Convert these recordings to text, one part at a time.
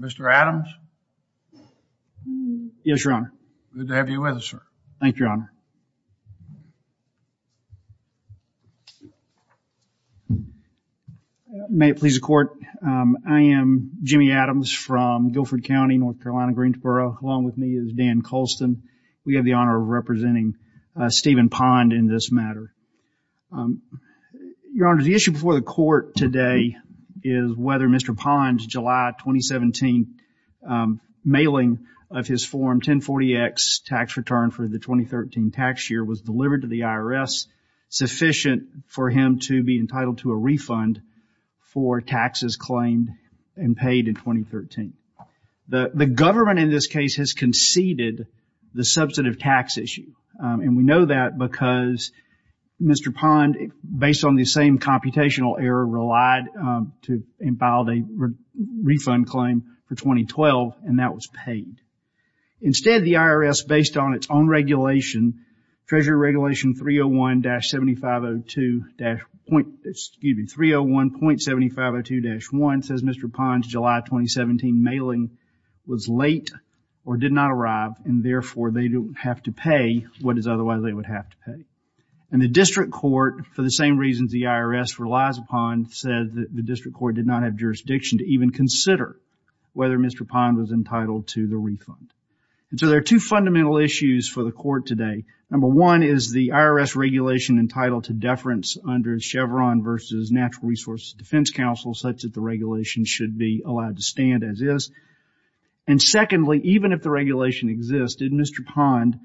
Mr. Adams? Yes your honor. Good to have you with us sir. Thank you your honor. May it please the court. I am Jimmy Adams from Guilford County, North Carolina, Greensboro. Along with me is Dan Colston. We have the honor of representing Stephen Pond in this matter. Your honor, the issue before the court today is whether Mr. Pond's July 2017 mailing of his form 1040x tax return for the 2013 tax year was delivered to the IRS sufficient for him to be entitled to a refund for taxes claimed and paid in 2013. The government in this case has conceded the Mr. Pond, based on the same computational error, relied to imbibe a refund claim for 2012 and that was paid. Instead the IRS, based on its own regulation, Treasury Regulation 301-7502-1, excuse me, 301.7502-1, says Mr. Pond's July 2017 mailing was late or did not arrive and therefore they don't have to pay what is otherwise they would have to pay. And the district court, for the same reasons the IRS relies upon, said that the district court did not have jurisdiction to even consider whether Mr. Pond was entitled to the refund. And so there are two fundamental issues for the court today. Number one is the IRS regulation entitled to deference under Chevron versus Natural Resources Defense Council such that the regulation should be allowed to stand as is. And secondly, even if the regulation existed, Mr. Pond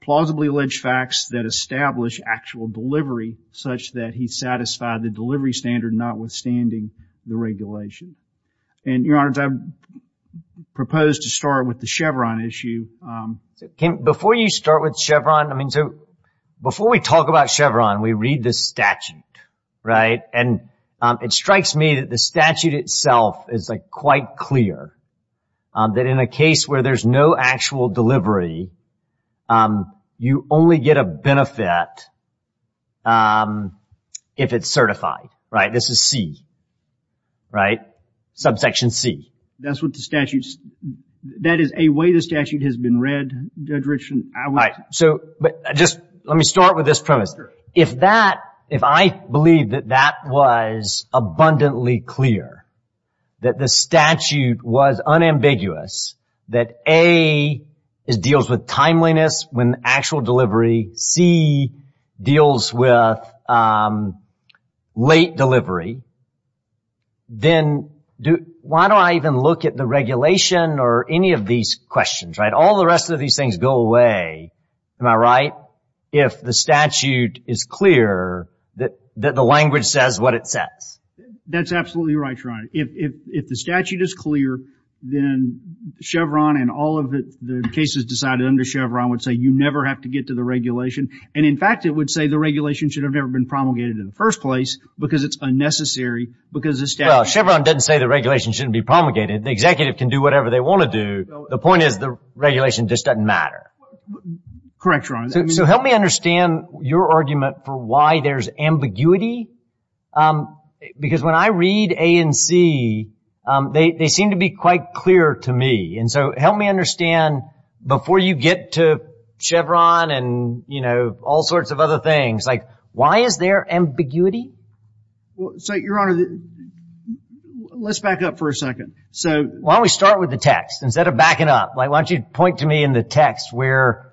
plausibly alleged facts that establish actual delivery such that he satisfied the delivery standard notwithstanding the regulation. And, Your Honor, I propose to start with the Chevron issue. Before you start with Chevron, I mean, so before we talk about Chevron, we read this statute, right? And it strikes me that the statute itself is like quite clear that in a case where there's no actual delivery, you only get a benefit if it's certified, right? This is C, right? Subsection C. That's what the statute, that is a way the statute has been read, Judge Richardson. Right, so but just let me start with this premise. If that, if I believe that that was abundantly clear, that the statute was unambiguous, that A deals with timeliness when actual delivery, C deals with late delivery, then why do I even look at the regulation or any of these questions, right? All the rest of these things go away, am I right? If the statute is clear that the language says what it says. That's absolutely right, Your Honor. If the statute is clear, then Chevron and all of the cases decided under Chevron would say you never have to get to the regulation. And in fact, it would say the regulation should have never been promulgated in the first place because it's unnecessary because the statute... Well, Chevron doesn't say the regulation shouldn't be promulgated. The executive can do whatever they want to do. The point is the regulation just doesn't matter. Correct, Your Honor. So help me understand your argument for why there's ambiguity. Because when I read A and C, they seem to be quite clear to me. And so help me understand before you get to Chevron and, you know, all sorts of other things, like why is there ambiguity? So, Your Honor, let's back up for a second. So... Why don't we start with the text instead of backing up? Why don't you point to me in the text where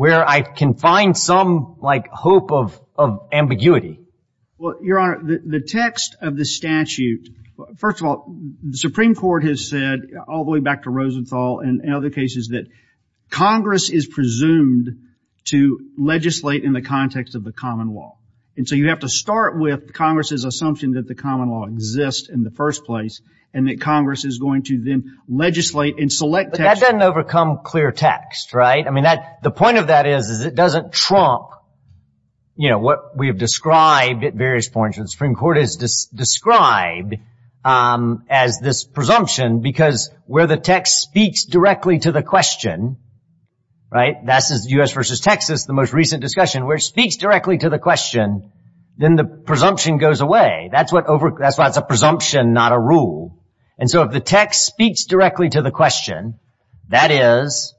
I can find some, like, hope of ambiguity? Well, Your Honor, the text of the statute, first of all, the Supreme Court has said, all the way back to Rosenthal and other cases, that Congress is presumed to legislate in the context of the common law. And so you have to start with Congress's assumption that the common law exists in the first place and that Congress is going to then legislate and select... But that doesn't overcome clear text, right? I mean, the point of that is, is it doesn't trump, you know, what we have described at various points. The Supreme Court has described as this presumption because where the text speaks directly to the question, right? That's as U.S. versus Texas, the most recent discussion, where it speaks directly to the question, then the presumption goes away. That's what over... That's why it's a presumption, not a rule. And so if the text speaks directly to the question, that is,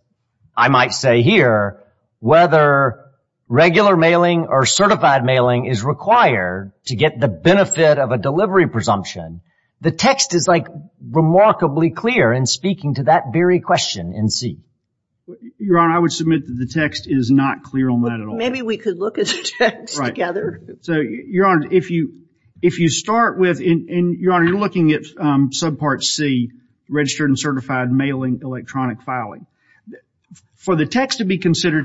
I might say here, whether regular mailing or certified mailing is required to get the benefit of a delivery presumption, the text is, like, remarkably clear in speaking to that very question in C. Your Honor, I would submit that the text is not clear on that at all. Maybe we could look at the text together. So, Your Honor, if you, if you start with... And, Your Honor, you're looking at subpart C, registered and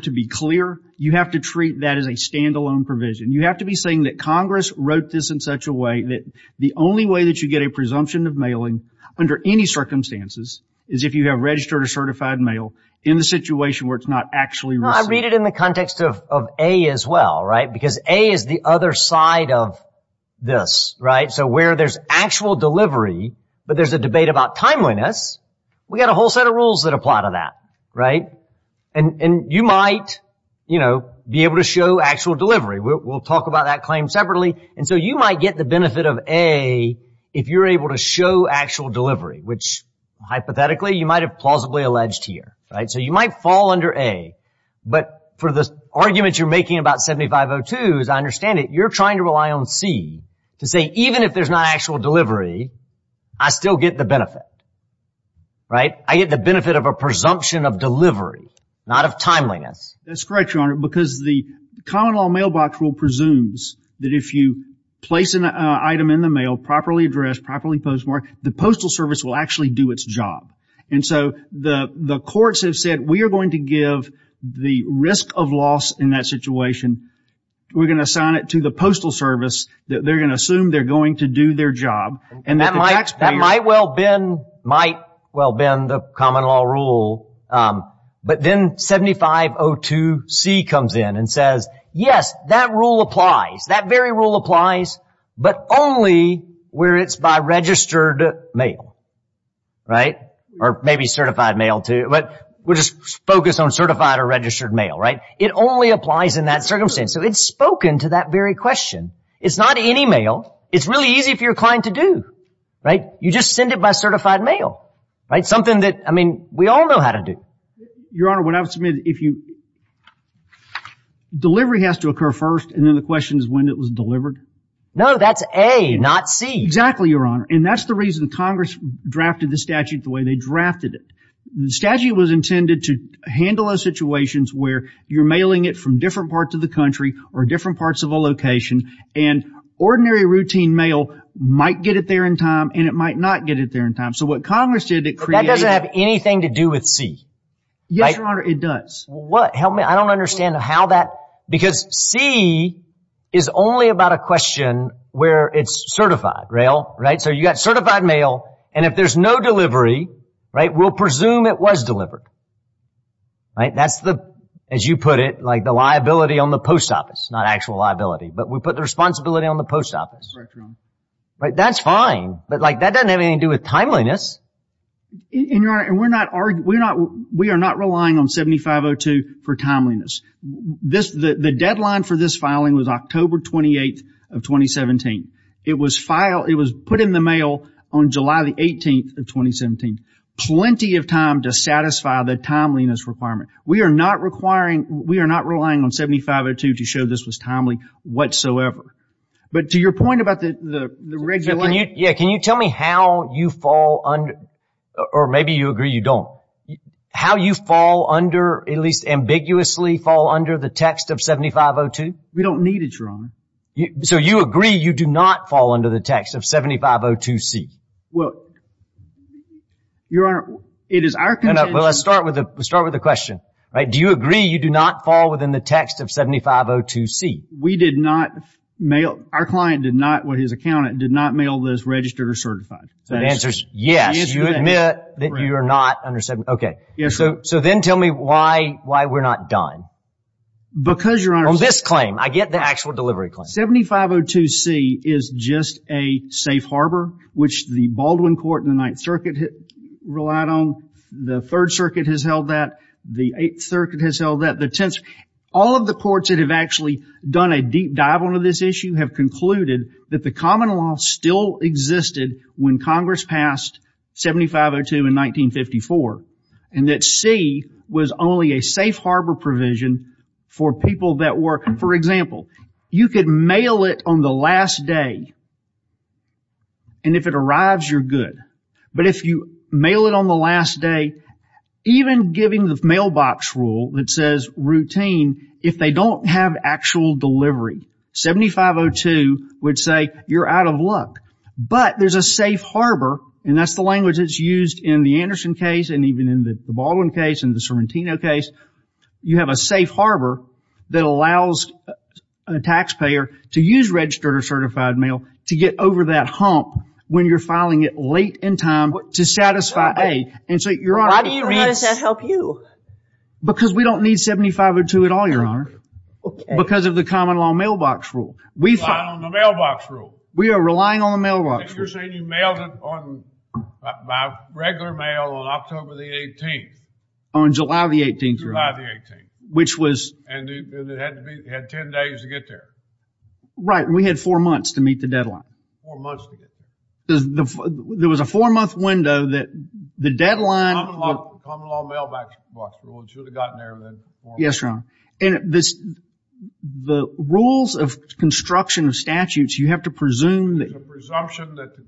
to be clear, you have to treat that as a standalone provision. You have to be saying that Congress wrote this in such a way that the only way that you get a presumption of mailing under any circumstances is if you have registered a certified mail in the situation where it's not actually... I read it in the context of A as well, right? Because A is the other side of this, right? So where there's actual delivery, but there's a debate about timeliness, we got a whole set of rules that apply to that, right? And, and you might, you know, be able to show actual delivery. We'll talk about that claim separately. And so you might get the benefit of A if you're able to show actual delivery, which hypothetically you might have plausibly alleged here, right? So you might fall under A, but for the argument you're making about 7502, as I understand it, you're trying to rely on C to say, even if there's not actual delivery, I still get the benefit, right? I get the benefit of a presumption of delivery, not of timeliness. That's correct, Your Honor, because the common law mailbox rule presumes that if you place an item in the mail, properly addressed, properly postmarked, the postal service will actually do its job. And so the, the courts have said, we are going to give the risk of loss in that situation, we're gonna assign it to the postal service, that they're gonna assume they're going to do their job, and that might well bend, might well bend the common law rule, but then 7502C comes in and says, yes, that rule applies, that very rule applies, but only where it's by registered mail, right? Or maybe certified mail too, but we'll just focus on certified or registered mail, right? It only applies in that circumstance. So it's spoken to that very question. It's not any mail, it's really easy for your client to do, right? You just send it by certified mail, right? Something that, I mean, we all know how to do. Your Honor, what I would submit, if you, delivery has to occur first, and then the question is when it was delivered? No, that's A, not C. Exactly, Your Honor, and that's the reason Congress drafted the statute the way they drafted it. The statute was intended to handle those situations where you're mailing it from different parts of the country or different parts of a location, and ordinary routine mail might get it there in time, and it might not get it there in time. So what Congress did, it created... But that doesn't have anything to do with C, right? Yes, Your Honor, it does. What? Help me. I don't understand how that... Because C is only about a question where it's certified, right? So you got certified mail, and if there's no delivery, right, we'll presume it was delivered, right? That's the, as you put it, like the liability on the post office, not actual liability, but we put the responsibility on the post office. Correct, Your Honor. Right, that's fine, but like that doesn't have anything to do with timeliness. And Your Honor, and we're not, we're not, we are not relying on 7502 for timeliness. This, the deadline for this filing was October 28th of 2017. It was filed, it was put in the mail on July the 18th of 2017. Plenty of time to satisfy the timeliness requirement. We are not requiring, we are not relying on 7502 to show this was timely whatsoever. But to your point about the, the, the regular... Can you, yeah, can you tell me how you fall under, or maybe you agree you don't, how you fall under, at least ambiguously fall under the text of 7502? We don't need it, Your Honor. So you agree you do not fall under the text of 7502C? Well, Your Honor, it is our... Well, let's start with a, let's start with a question, right? Do you agree you do not fall within the text of 7502C? We did not mail, our client did not, with his accountant, did not mail this registered or certified. So the answer is yes, you admit that you are not under 7502. OK, so, so then tell me why, why we're not done. Because, Your Honor... On this claim, I get the actual delivery claim. 7502C is just a safe harbor, which the Baldwin Court and the Ninth Circuit relied on, the Third Circuit has held that, the Eighth Circuit has held that, the tenths, all of the courts that have actually done a deep dive on this issue have concluded that the common law still existed when Congress passed 7502 in 1954, and that C was only a safe harbor provision for people that were, for example, you could mail it on the last day, and if it arrives, you're good. But if you mail it on the last day, even giving the mailbox rule that says routine, if they don't have actual delivery, 7502 would say, you're out of luck. But there's a safe harbor, and that's the language that's used in the Anderson case, and even in the Baldwin case and the Sorrentino case, you have a safe harbor that allows a taxpayer to use registered or certified mail to get over that hump when you're filing it late in time to satisfy A, and so, Your Honor, Why do you think that helps you? Because we don't need 7502 at all, Your Honor, because of the common law mailbox rule, we rely on the mailbox rule. We are relying on the mailbox rule. You're saying you mailed it by regular mail on October the 18th. On July the 18th, Your Honor. July the 18th. Which was... And it had to be, it had 10 days to get there. Right, and we had four months to meet the deadline. Four months to get there. There was a four-month window that the deadline... Common law mailbox rule should have gotten there then. Yes, Your Honor. And this, the rules of construction of statutes, you have to presume that... There's a presumption that the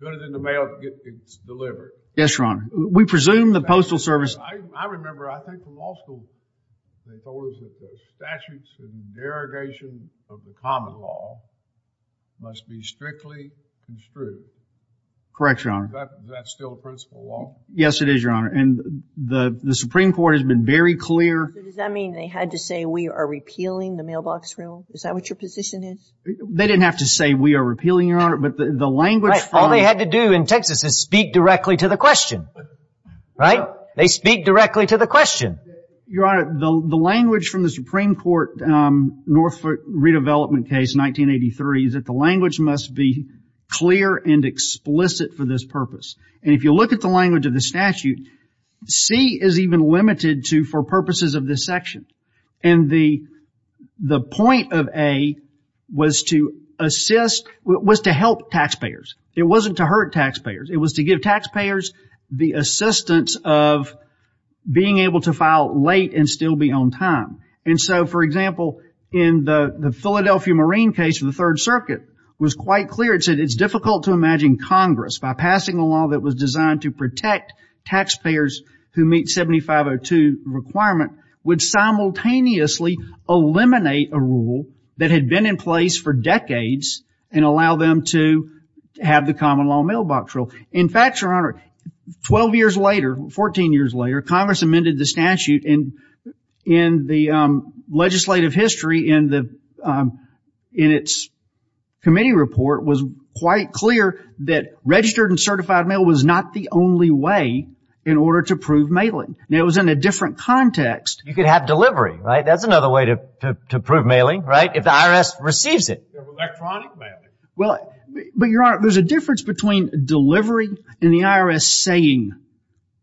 good in the mail gets delivered. Yes, Your Honor. We presume the postal service... I remember, I think the law school, they told us that the statutes and interrogation of the common law must be strictly construed. Correct, Your Honor. Is that still a principle law? Yes, it is, Your Honor. And the Supreme Court has been very clear... So does that mean they had to say, we are repealing the mailbox rule? Is that what your position is? They didn't have to say, we are repealing, Your Honor, but the language... All they had to do in Texas is speak directly to the question. Right? They speak directly to the question. Your Honor, the language from the Supreme Court, um, Norfolk redevelopment case, 1983, is that the language must be clear and explicit for this purpose. And if you look at the language of the statute, C is even limited to for purposes of this section. And the, the point of A was to assist, was to help taxpayers. It wasn't to hurt taxpayers. It was to give taxpayers the assistance of being able to file late and still be on time. And so, for example, in the Philadelphia Marine case for the third circuit was quite clear. It said, it's difficult to imagine Congress by passing a law that was designed to protect taxpayers who meet 7502 requirement would simultaneously eliminate a rule that had been in place for decades and allow them to have the common law mailbox rule. In fact, Your Honor, 12 years later, 14 years later, Congress amended the statute and in the legislative history in the, um, in its committee report was quite clear that registered and certified mail was not the only way in order to prove mailing. Now it was in a different context. You could have delivery, right? That's another way to prove mailing, right? If the IRS receives it. You have electronic mailing. Well, but Your Honor, there's a difference between delivery and the IRS saying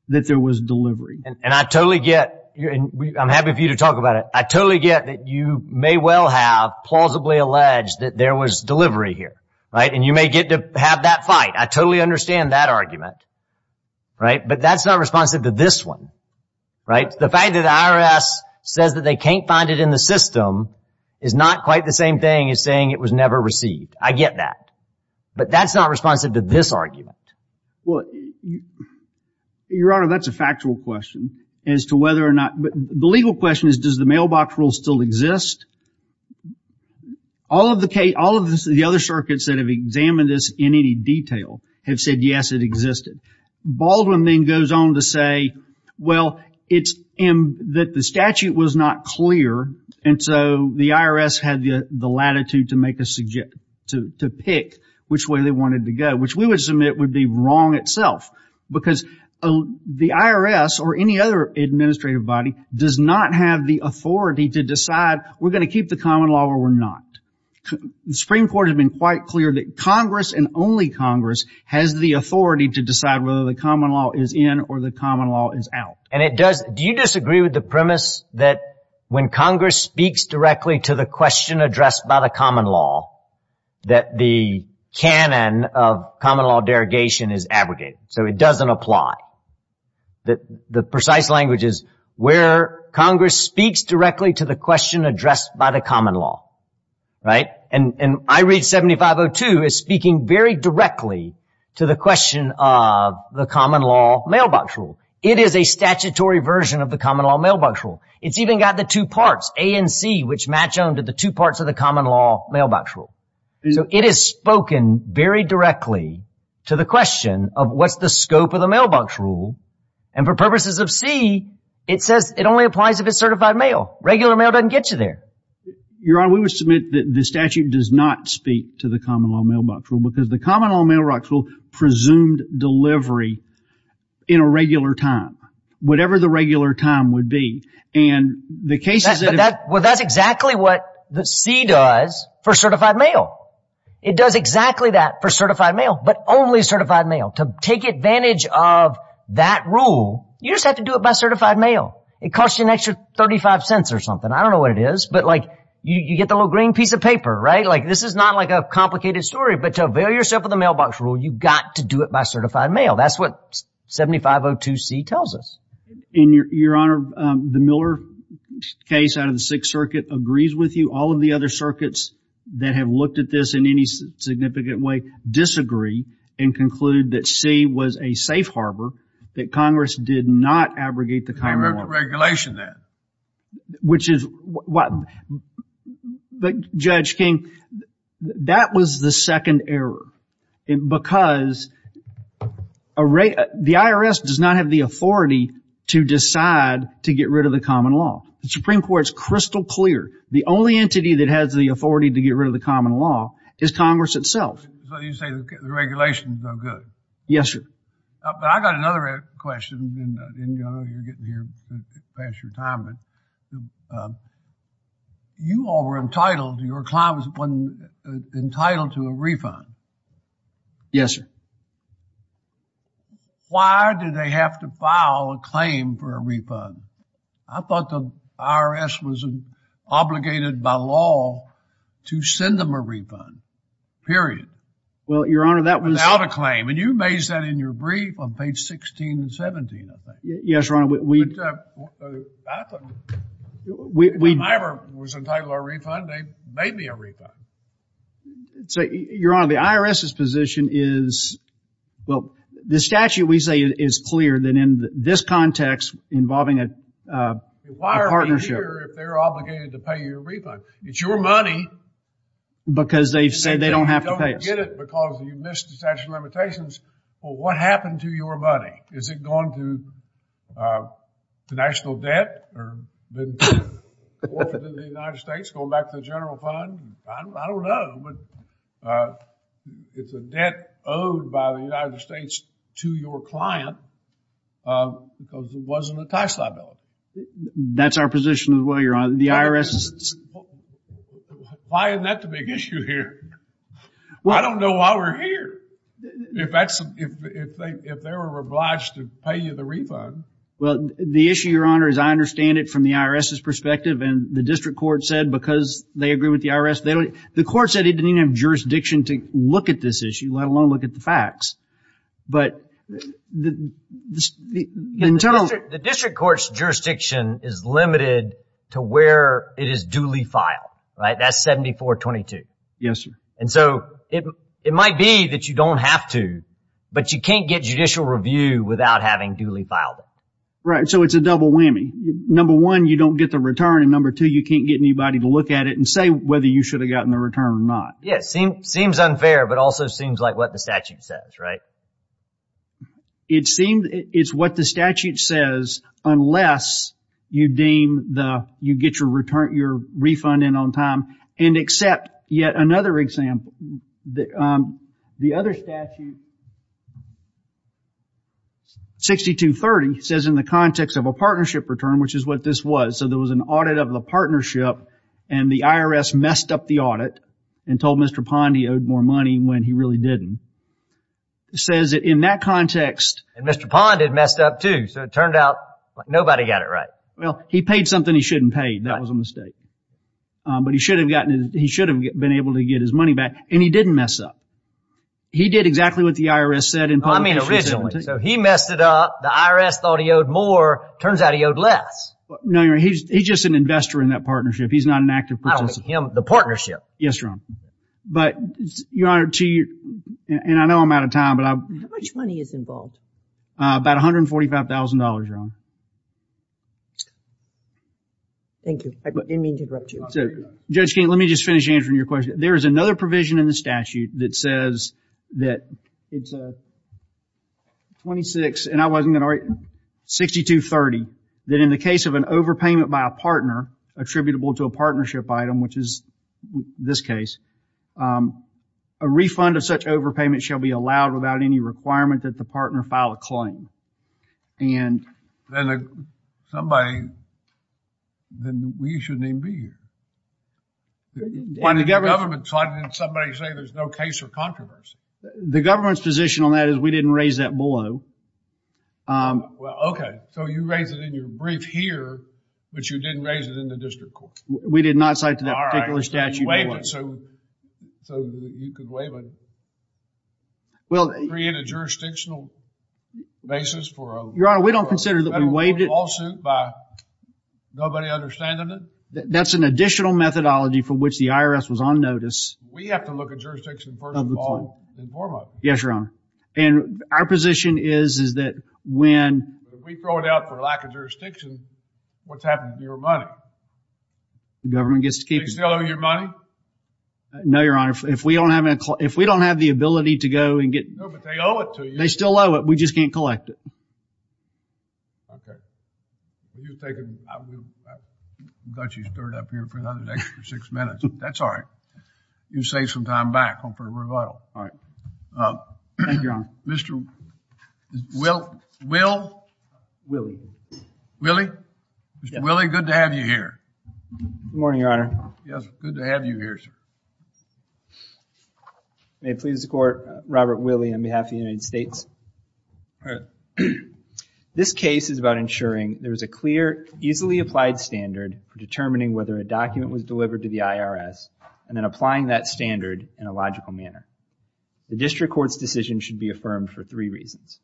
that there was delivery. And I totally get, and I'm happy for you to talk about it. I totally get that you may well have plausibly alleged that there was delivery here, right? And you may get to have that fight. I totally understand that argument, right? But that's not responsive to this one, right? The fact that the IRS says that they can't find it in the system is not quite the same thing as saying it was never received. I get that, but that's not responsive to this argument. Well, Your Honor, that's a factual question as to whether or not, the legal question is, does the mailbox rule still exist? All of the, all of the other circuits that have examined this in any detail have said, yes, it existed. Baldwin then goes on to say, well, it's that the statute was not clear. And so the IRS had the latitude to make a, to pick which way they wanted to go, which we would submit would be wrong itself because the IRS or any other administrative body does not have the authority to decide we're going to keep the common law or we're not. The Supreme Court has been quite clear that Congress and only Congress has the authority to decide whether the common law is in or the common law is out. And it does. Do you disagree with the premise that when Congress speaks directly to the question addressed by the common law, that the canon of common law derogation is abrogated, so it doesn't apply. That the precise language is where Congress speaks directly to the question addressed by the common law. Right. And I read 7502 is speaking very directly to the question of the common law mailbox rule. It is a statutory version of the common law mailbox rule. It's even got the two parts, A and C, which match on to the two parts of the common law mailbox rule. So it is spoken very directly to the question of what's the scope of the mailbox rule and for purposes of C, it says it only applies if it's certified mail, regular mail doesn't get you there. Your honor, we would submit that the statute does not speak to the common law mailbox rule because the common law mailbox rule presumed delivery in a regular time, whatever the regular time would be, and the cases that... Well, that's exactly what the C does for certified mail. It does exactly that for certified mail, but only certified mail. To take advantage of that rule, you just have to do it by certified mail. It costs you an extra 35 cents or something. I don't know what it is, but like you get the little green piece of paper, right? Like this is not like a complicated story, but to avail yourself of the mailbox rule, you've got to do it by certified mail. That's what 7502C tells us. And your honor, the Miller case out of the Sixth Circuit agrees with you. All of the other circuits that have looked at this in any significant way disagree and conclude that C was a safe harbor, that Congress did not abrogate the common law. There's no regulation there. Which is what, but Judge King, that was the second error because the IRS does not have the authority to decide to get rid of the common law. The Supreme Court is crystal clear. The only entity that has the authority to get rid of the common law is Congress itself. So you say the regulations are good. Yes, sir. But I got another question and I didn't know you were getting here past your time. But you all were entitled, your client was entitled to a refund. Yes, sir. Why did they have to file a claim for a refund? I thought the IRS was obligated by law to send them a refund, period. Well, your honor, that was- Without a claim. And you raised that in your brief on page 16 and 17, I think. Yes, your honor. We- Which I thought, when I was entitled to a refund, they made me a refund. So your honor, the IRS's position is, well, this statute, we say, is clear that in this context, involving a partnership- Why are they here if they're obligated to pay you a refund? It's your money. Because they've said they don't have to pay us. And they don't get it because you missed the statute of limitations. Well, what happened to your money? Is it gone to the national debt or been forfeited to the United States, going back to the general fund? I don't know. But it's a debt owed by the United States to your client because it wasn't a tax liability. That's our position as well, your honor. The IRS- Why isn't that the big issue here? I don't know why we're here. If that's- if they were obliged to pay you the refund. Well, the issue, your honor, as I understand it from the IRS's perspective and the district court said, because they agree with the IRS, they don't- the court said it didn't even have jurisdiction to look at this issue, let alone look at the facts. But the internal- The district court's jurisdiction is limited to where it is duly filed. Right? That's 7422. Yes, sir. And so it might be that you don't have to, but you can't get judicial review without having duly filed it. Right. So it's a double whammy. Number one, you don't get the return. And number two, you can't get anybody to look at it and say whether you should have gotten the return or not. Yeah. It seems unfair, but also seems like what the statute says. Right? It seems it's what the statute says, unless you deem the- you get your return- your refund in on time and accept yet another example. The, um, the other statute, 6230 says in the context of a partnership return, which is what this was. So there was an audit of the partnership and the IRS messed up the audit and told Mr. Pond he owed more money when he really didn't. It says that in that context- And Mr. Pond had messed up too. So it turned out nobody got it right. Well, he paid something he shouldn't pay. That was a mistake. Um, but he should have gotten his- he should have been able to get his money back. And he didn't mess up. He did exactly what the IRS said in- I mean, originally. So he messed it up. The IRS thought he owed more. Turns out he owed less. No, you're right. He's just an investor in that partnership. He's not an active participant. Not like him, the partnership. Yes, Your Honor. But, Your Honor, to your- and I know I'm out of time, but I- How much money is involved? Uh, about $145,000, Your Honor. Thank you. I didn't mean to interrupt you. So, Judge King, let me just finish answering your question. There is another provision in the statute that says that it's, uh, 26 and I wasn't of an overpayment by a partner attributable to a partnership item, which is this case. Um, a refund of such overpayment shall be allowed without any requirement that the partner file a claim. And- Then, uh, somebody- then we shouldn't even be here. Why didn't the government- Why didn't somebody say there's no case or controversy? The government's position on that is we didn't raise that below. Um- Well, okay. So, you raised it in your brief here, but you didn't raise it in the district court. We did not cite to that particular statute. All right, so you waived it, so- so you could waive it. Well- Create a jurisdictional basis for a- Your Honor, we don't consider that we waived it- A federal lawsuit by nobody understanding it? That's an additional methodology for which the IRS was on notice. We have to look at jurisdiction first and foremost. Yes, Your Honor. And our position is, is that when- We throw it out for lack of jurisdiction, what's happened to your money? The government gets to keep- Do they still owe you money? No, Your Honor. If we don't have any- if we don't have the ability to go and get- No, but they owe it to you. They still owe it. We just can't collect it. Okay. You take it. I will do- I thought you stirred it up here for another extra six minutes. That's all right. You saved some time back. I'm going to put it in revival. All right. Um- Thank you, Your Honor. Mr. Will- Will? Willie. Willie? Mr. Willie, good to have you here. Good morning, Your Honor. Yes. Good to have you here, sir. May it please the court, Robert Willie on behalf of the United States. All right. This case is about ensuring there is a clear, easily applied standard for determining whether a document was delivered to the IRS and then applying that standard in a logical manner. The district court's decision should be affirmed for three reasons.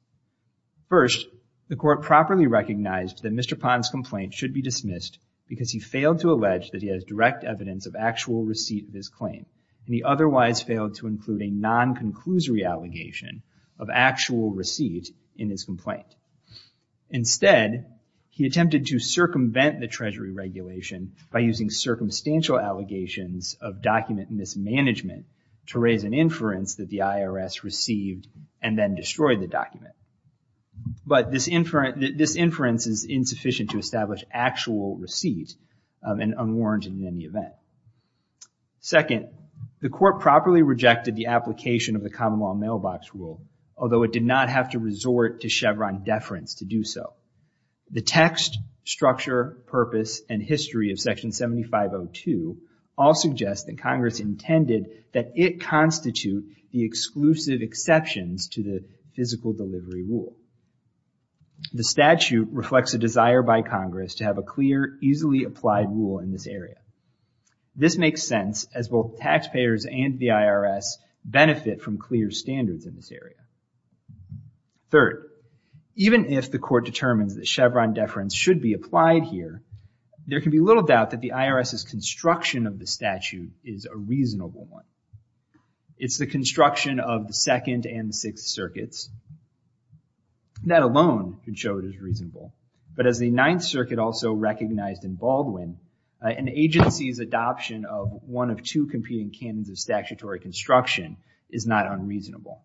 First, the court properly recognized that Mr. Pond's complaint should be dismissed because he failed to allege that he has direct evidence of actual receipt of his claim and he otherwise failed to include a non-conclusory allegation of actual receipt in his complaint. Instead, he attempted to circumvent the treasury regulation by using circumstantial allegations of document mismanagement to raise an inference that the IRS received and then destroyed the document, but this inference is insufficient to establish actual receipt and unwarranted in any event. Second, the court properly rejected the application of the common law mailbox rule, although it did not have to resort to Chevron deference to do so. The text, structure, purpose, and history of section 7502 all suggest that Congress intended that it constitute the exclusive exceptions to the physical delivery rule. The statute reflects a desire by Congress to have a clear, easily applied rule in this area. This makes sense as both taxpayers and the IRS benefit from clear standards in this area. Third, even if the court determines that Chevron deference should be applied here, there can be little doubt that the IRS's construction of the statute is a reasonable one. It's the construction of the second and the sixth circuits. That alone could show it as reasonable, but as the ninth circuit also recognized in Baldwin, an agency's adoption of one of two competing canons of statutory construction is not unreasonable.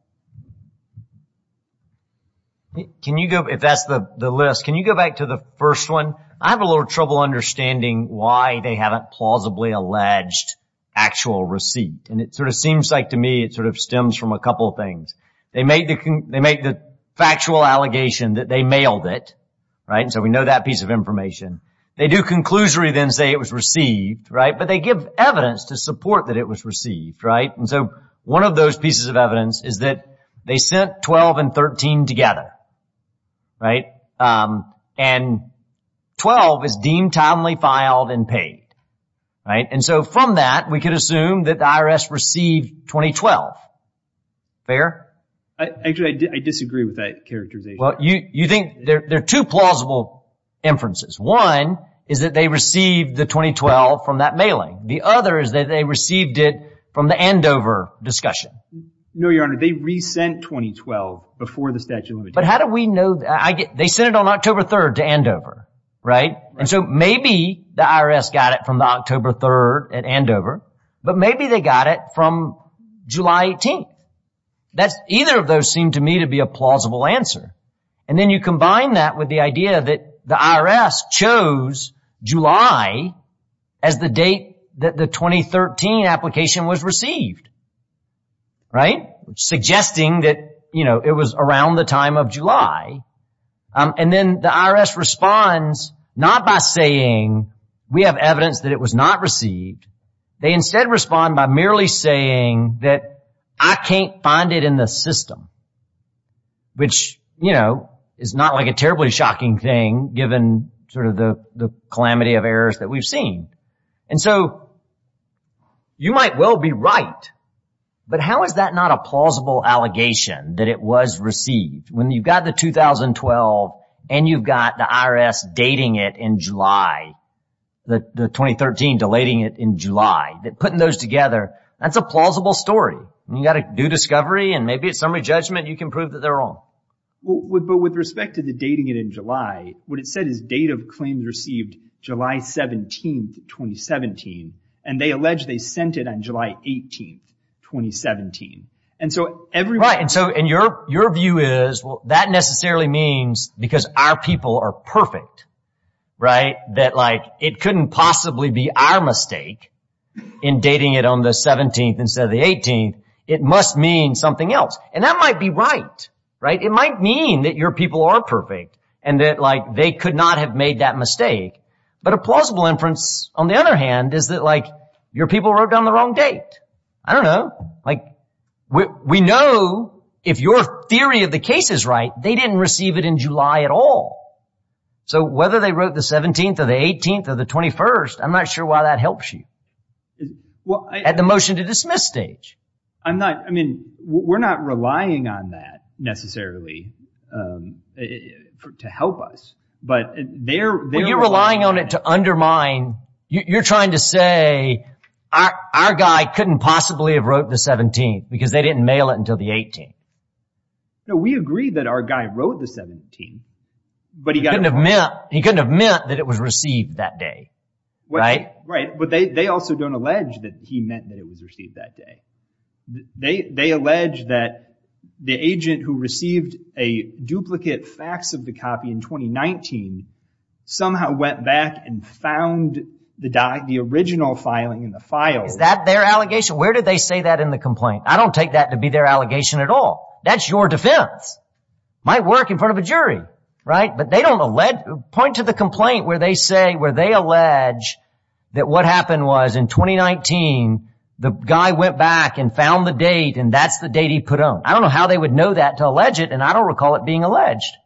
If that's the list, can you go back to the first one? I have a little trouble understanding why they haven't plausibly alleged actual receipt, and it sort of seems like to me it sort of stems from a couple of things. They make the factual allegation that they mailed it, right? And so we know that piece of information. They do conclusory then say it was received, right? But they give evidence to support that it was received, right? And so one of those pieces of evidence is that they sent 12 and 13 together, right? And 12 is deemed timely filed and paid, right? And so from that, we could assume that the IRS received 2012. Fair? Actually, I disagree with that characterization. Well, you think there are two plausible inferences. One is that they received the 2012 from that mailing. The other is that they received it from the Andover discussion. No, Your Honor, they re-sent 2012 before the statute of limitations. But how do we know? They sent it on October 3rd to Andover, right? And so maybe the IRS got it from the October 3rd at Andover, but maybe they got it from July 18th. That's either of those seem to me to be a plausible answer. And then you combine that with the idea that the IRS chose July as the date that the 2013 application was received. Right? Suggesting that, you know, it was around the time of July. And then the IRS responds not by saying we have evidence that it was not received. They instead respond by merely saying that I can't find it in the system. Which, you know, is not like a terribly shocking thing, given sort of the calamity of errors that we've seen. And so you might well be right. But how is that not a plausible allegation that it was received? When you've got the 2012 and you've got the IRS dating it in July, the 2013 deleting it in July, that putting those together, that's a plausible story. You got to do discovery and maybe it's summary judgment. You can prove that they're wrong. Well, but with respect to the dating it in July, what it said is date of claims received July 17th, 2017. And they allege they sent it on July 18th, 2017. And so every right. And so in your your view is that necessarily means because our people are perfect. Right. That like it couldn't possibly be our mistake in dating it on the 17th instead of the 18th. It must mean something else. And that might be right. Right. It might mean that your people are perfect and that like they could not have made that mistake. But a plausible inference, on the other hand, is that like your people wrote down the wrong date. I don't know. Like we know if your theory of the case is right, they didn't receive it in July at all. So whether they wrote the 17th or the 18th or the 21st, I'm not sure why that helps you at the motion to dismiss stage. I'm not I mean, we're not relying on that necessarily to help us, but they're they're relying on it to undermine. You're trying to say our guy couldn't possibly have wrote the 17th because they didn't mail it until the 18th. No, we agree that our guy wrote the 17. But he couldn't have meant he couldn't have meant that it was received that day. Right. Right. But they also don't allege that he meant that it was received that day. They they allege that the agent who received a duplicate fax of the copy in twenty nineteen somehow went back and found the the original filing in the file. Is that their allegation? Where did they say that in the complaint? I don't take that to be their allegation at all. That's your defense. Might work in front of a jury. Right. But they don't let point to the complaint where they say where they allege that what happened was in twenty nineteen, the guy went back and found the date. And that's the date he put on. I don't know how they would know that to allege it. And I don't recall it being alleged.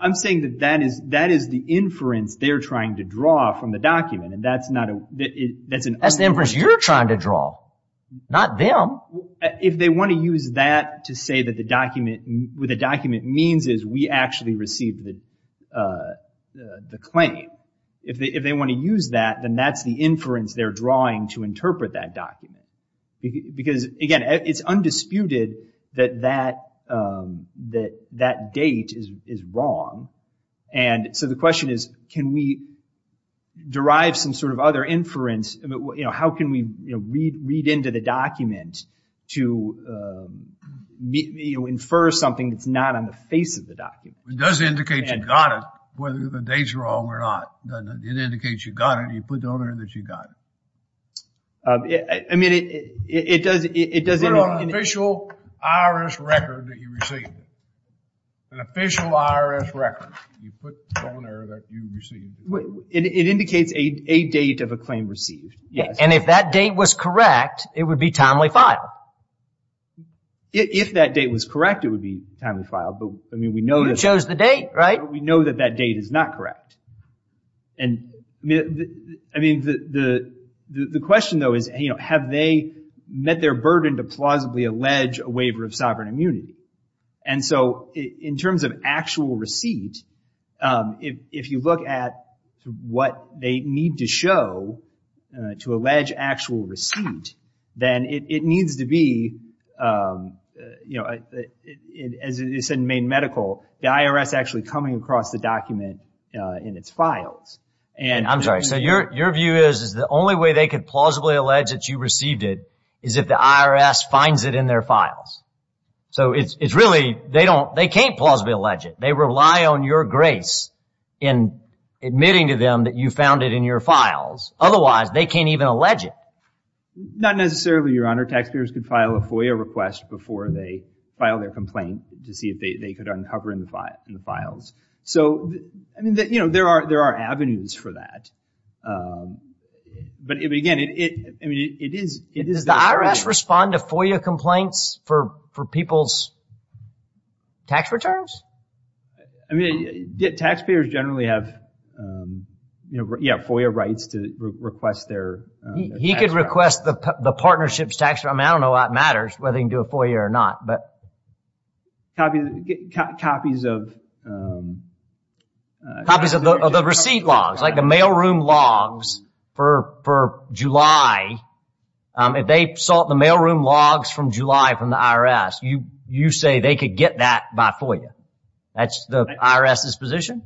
I'm saying that that is that is the inference they're trying to draw from the document. And that's not that's the inference you're trying to draw. Not them. If they want to use that to say that the document with a document means is we actually received the the claim. If they if they want to use that, then that's the inference they're drawing to interpret that document, because, again, it's undisputed that that that that date is is wrong. And so the question is, can we derive some sort of other inference? How can we read into the document to infer something that's not on the face of the document? It does indicate you got it, whether the date's wrong or not. It indicates you got it. You put down there that you got it. I mean, it does. It does it on official IRS record that you received. An official IRS record. You put on there that you received. It indicates a date of a claim received. And if that date was correct, it would be timely file. If that date was correct, it would be timely file. But I mean, we know you chose the date, right? We know that that date is not correct. And I mean, the the the question, though, is, you know, have they met their burden to plausibly allege a waiver of sovereign immunity? And so in terms of actual receipt, if you look at what they need to show to allege actual receipt, then it needs to be, you know, as you said, in Maine Medical, the IRS actually coming across the document in its files. And I'm sorry. So your your view is, is the only way they could plausibly allege that you received it is if the IRS finds it in their files. So it's really they don't they can't plausibly allege it. They rely on your grace in admitting to them that you found it in your files. Not necessarily, Your Honor. Taxpayers could file a FOIA request before they file their complaint to see if they could uncover in the files. So, I mean, you know, there are there are avenues for that. But again, it I mean, it is it is the IRS respond to FOIA complaints for for people's. Tax returns, I mean, taxpayers generally have, you know, FOIA rights to request their. He could request the partnership's tax. I mean, I don't know what matters, whether he can do a FOIA or not, but. Copy the copies of. Copies of the receipt logs, like the mailroom logs for for July. If they sought the mailroom logs from July from the IRS, you you say they could get that by FOIA. That's the IRS's position.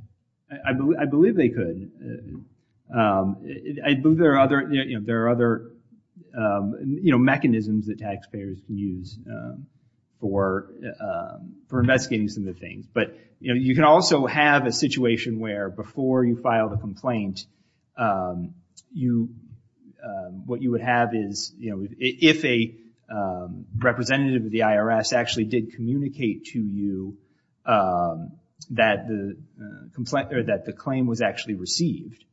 I believe I believe they could. I believe there are other, you know, there are other, you know, mechanisms that taxpayers can use for for investigating some of the things. But, you know, you can also have a situation where before you file the complaint, you what you would have is, you know, if a representative of the IRS actually did communicate to you that the complaint or that the claim was actually received.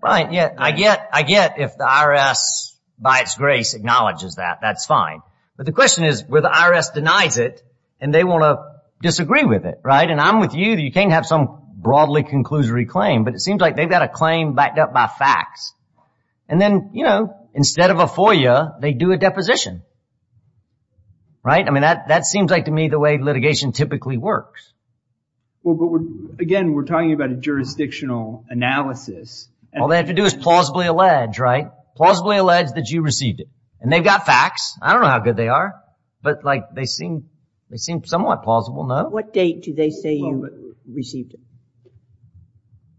Right. Yeah, I get I get if the IRS, by its grace, acknowledges that. That's fine. But the question is where the IRS denies it and they want to disagree with it. Right. And I'm with you. You can't have some broadly conclusory claim, but it seems like they've got a claim backed up by facts. And then, you know, instead of a FOIA, they do a deposition. Right. I mean, that that seems like to me the way litigation typically works. Well, again, we're talking about a jurisdictional analysis. All they have to do is plausibly allege, right? Plausibly allege that you received it and they've got facts. I don't know how good they are, but like they seem they seem somewhat plausible. What date do they say you received it?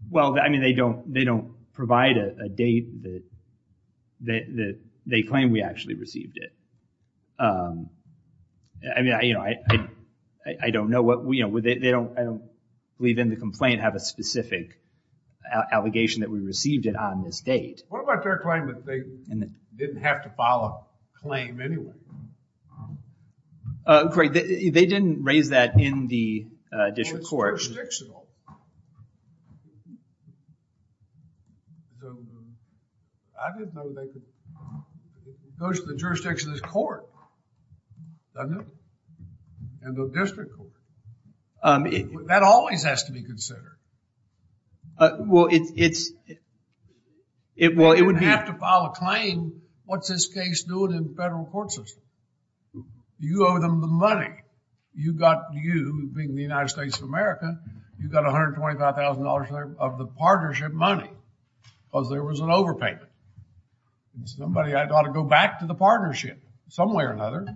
Well, I mean, they don't they don't provide a date that that they claim we actually received it. Um, I mean, I, you know, I, I don't know what we know with it. They don't I don't believe in the complaint, have a specific allegation that we received it on this date. What about their claim that they didn't have to file a claim anyway? Corey, they didn't raise that in the district court. Well, it's jurisdictional. I didn't know they could, it goes to the jurisdiction of the court, doesn't it? And the district court, that always has to be considered. Well, it's, it will, it would be. They didn't have to file a claim. What's this case doing in the federal court system? You owe them the money. You got you being the United States of America. You've got $125,000 of the partnership money because there was an overpayment. Somebody had ought to go back to the partnership some way or another.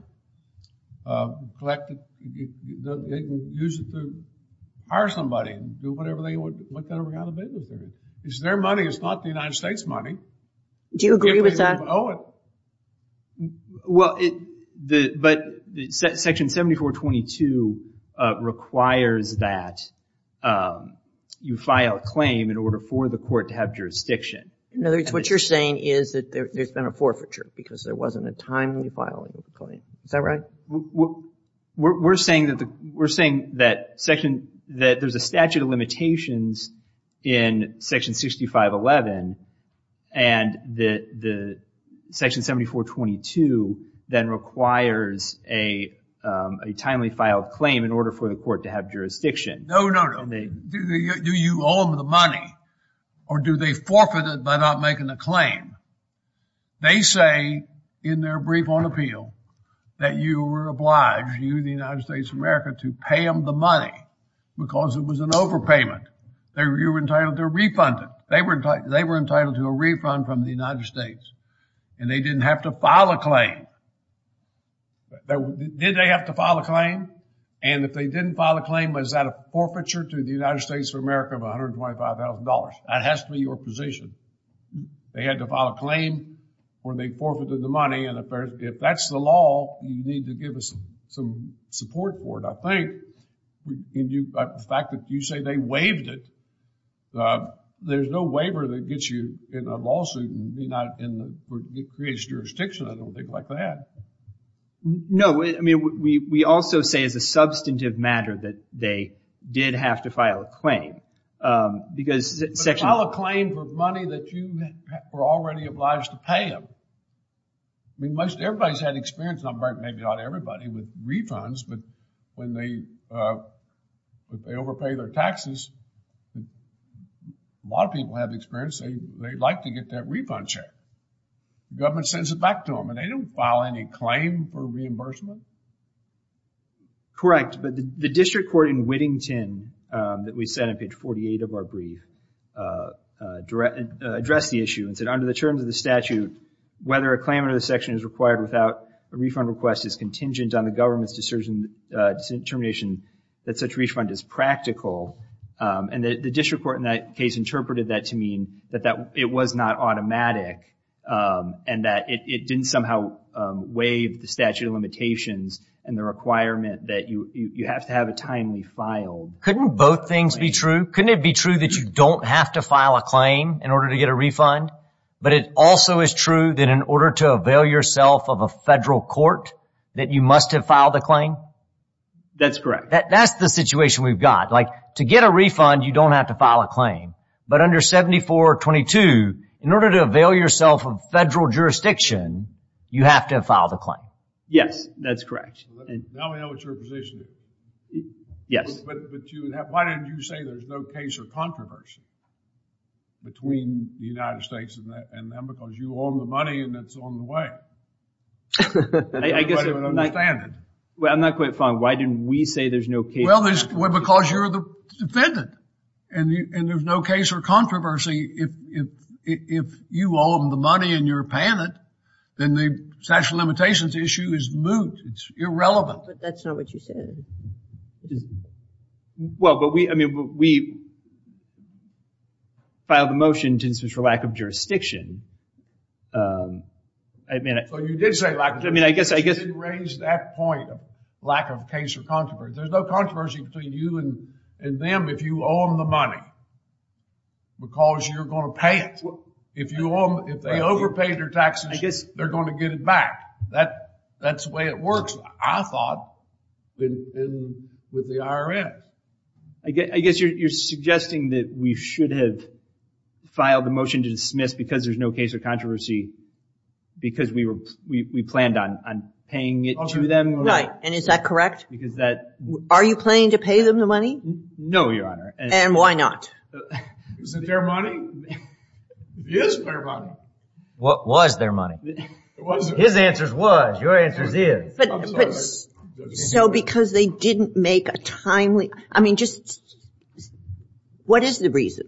Um, collect it, use it to hire somebody and do whatever they would. What kind of a business is their money? It's not the United States money. Do you agree with that? I don't owe it. Well, it, the, but section 7422 requires that you file a claim in order for the court to have jurisdiction. In other words, what you're saying is that there's been a forfeiture because there wasn't a timely filing of the claim. Is that right? We're saying that the, we're saying that section, that there's a statute of limitations in section 6511. And the, the section 7422 then requires a, um, a timely filed claim in order for the court to have jurisdiction. No, no, no. Do you owe them the money or do they forfeit it by not making a claim? They say in their brief on appeal that you were obliged, you the United States of America, to pay them the money because it was an overpayment. They were entitled to refund it. They were, they were entitled to a refund from the United States and they didn't have to file a claim. Did they have to file a claim? And if they didn't file a claim, was that a forfeiture to the United States of America of $125,000? That has to be your position. They had to file a claim or they forfeited the money. And if that's the law, you need to give us some support for it. I think the fact that you say they waived it, there's no waiver that gets you in a lawsuit and creates jurisdiction. I don't think like that. No, I mean, we, we also say as a substantive matter that they did have to file a claim because section... But file a claim for money that you were already obliged to pay them. I mean, most, everybody's had experience. Maybe not everybody with refunds, but when they, if they overpay their taxes, a lot of people have experienced, they'd like to get that refund check. Government sends it back to them and they don't file any claim for reimbursement. Correct. But the district court in Whittington that we said on page 48 of our brief addressed the issue and said, under the terms of the statute, whether a claim under the section is required without a refund request is contingent on the government's determination that such refund is practical. And the district court in that case interpreted that to mean that it was not automatic and that it didn't somehow waive the statute of limitations and the requirement that you have to have it timely filed. Couldn't both things be true? Couldn't it be true that you don't have to file a claim in order to get a refund? But it also is true that in order to avail yourself of a federal court, that you must have filed a claim? That's correct. That's the situation we've got. Like to get a refund, you don't have to file a claim. But under 7422, in order to avail yourself of federal jurisdiction, you have to have filed a claim. Yes, that's correct. Now we know what your position is. Yes. But why didn't you say there's no case or controversy between the United States and them because you owe them the money and it's on the way? I guess I'm not quite fine. Why didn't we say there's no case? Well, because you're the defendant and there's no case or controversy. If you owe them the money and you're paying it, then the statute of limitations issue is moot. It's irrelevant. But that's not what you said. Well, but we, I mean, we filed a motion for lack of jurisdiction. I mean, I guess I guess. You didn't raise that point of lack of case or controversy. There's no controversy between you and them if you owe them the money. Because you're going to pay it. If they overpaid their taxes, they're going to get it back. That's the way it works, I thought, with the IRM. I guess you're suggesting that we should have filed the motion to dismiss because there's no case or controversy because we planned on paying it to them. Right. And is that correct? Because that. Are you planning to pay them the money? No, Your Honor. And why not? Is it their money? It is their money. What was their money? His answers was, your answers is. But so because they didn't make a timely, I mean, just what is the reason?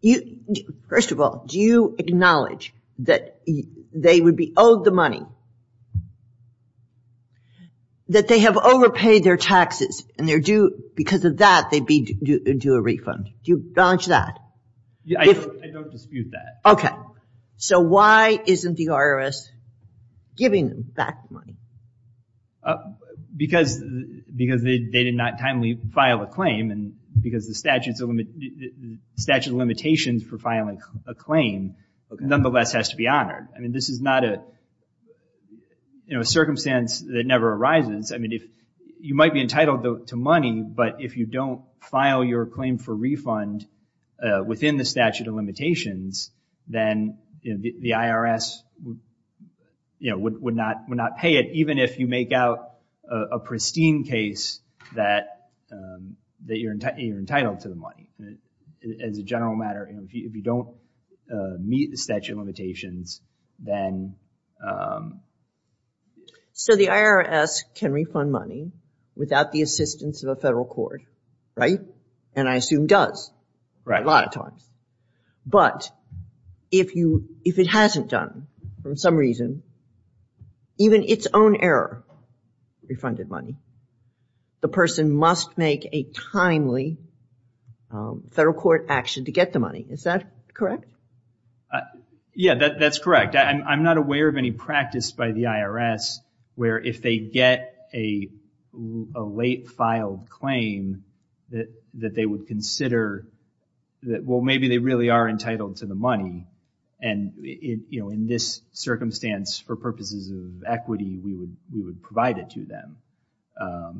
You first of all, do you acknowledge that they would be owed the money? That they have overpaid their taxes and they're due because of that, they'd be due a refund. Do you acknowledge that? Yeah, I don't dispute that. OK, so why isn't the IRS giving them back the money? Because they did not timely file a claim and because the statute of limitations for filing a claim nonetheless has to be honored. I mean, this is not a circumstance that never arises. I mean, you might be entitled to money, but if you don't file your claim for refund within the statute of limitations, then the IRS would not pay it. Even if you make out a pristine case that you're entitled to the money, as a general matter, if you don't meet the statute of limitations, then. So the IRS can refund money without the assistance of a federal court, right? And I assume does a lot of times. But if you if it hasn't done for some reason, even its own error, refunded money, the person must make a timely federal court action to get the money. Is that correct? Yeah, that's correct. I'm not aware of any practice by the IRS where if they get a late filed claim that that they would consider that, well, maybe they really are entitled to the money. And, you know, in this circumstance, for purposes of equity, we would we would provide it to them. I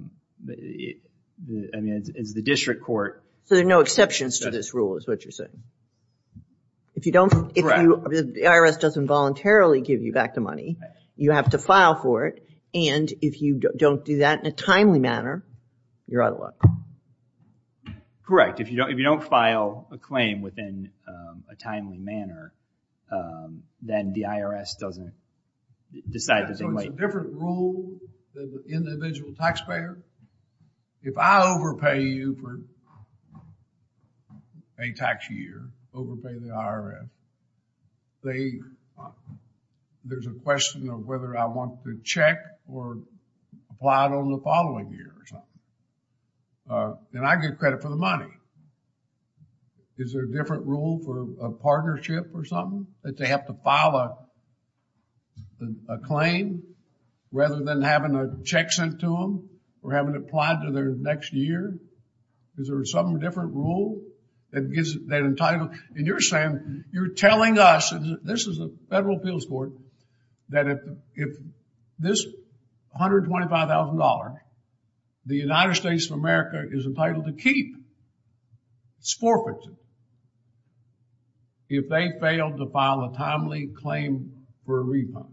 mean, it's the district court. So there are no exceptions to this rule, is what you're saying? If you don't, if the IRS doesn't voluntarily give you back the money, you have to file for it. And if you don't do that in a timely manner, you're out of luck. Correct. If you don't file a claim within a timely manner, then the IRS doesn't decide. So it's a different rule than the individual taxpayer. If I overpay you for a tax year, overpay the IRS, they, there's a question of whether I want to check or apply it on the following year or something. Then I get credit for the money. Is there a different rule for a partnership or something that they have to file a claim rather than having a check sent to them or having it applied to their next year? Is there some different rule that gives that entitlement? And you're saying, you're telling us, this is a federal appeals court, that if this $125,000, the United States of America is entitled to keep. It's forfeited. If they failed to file a timely claim for a refund,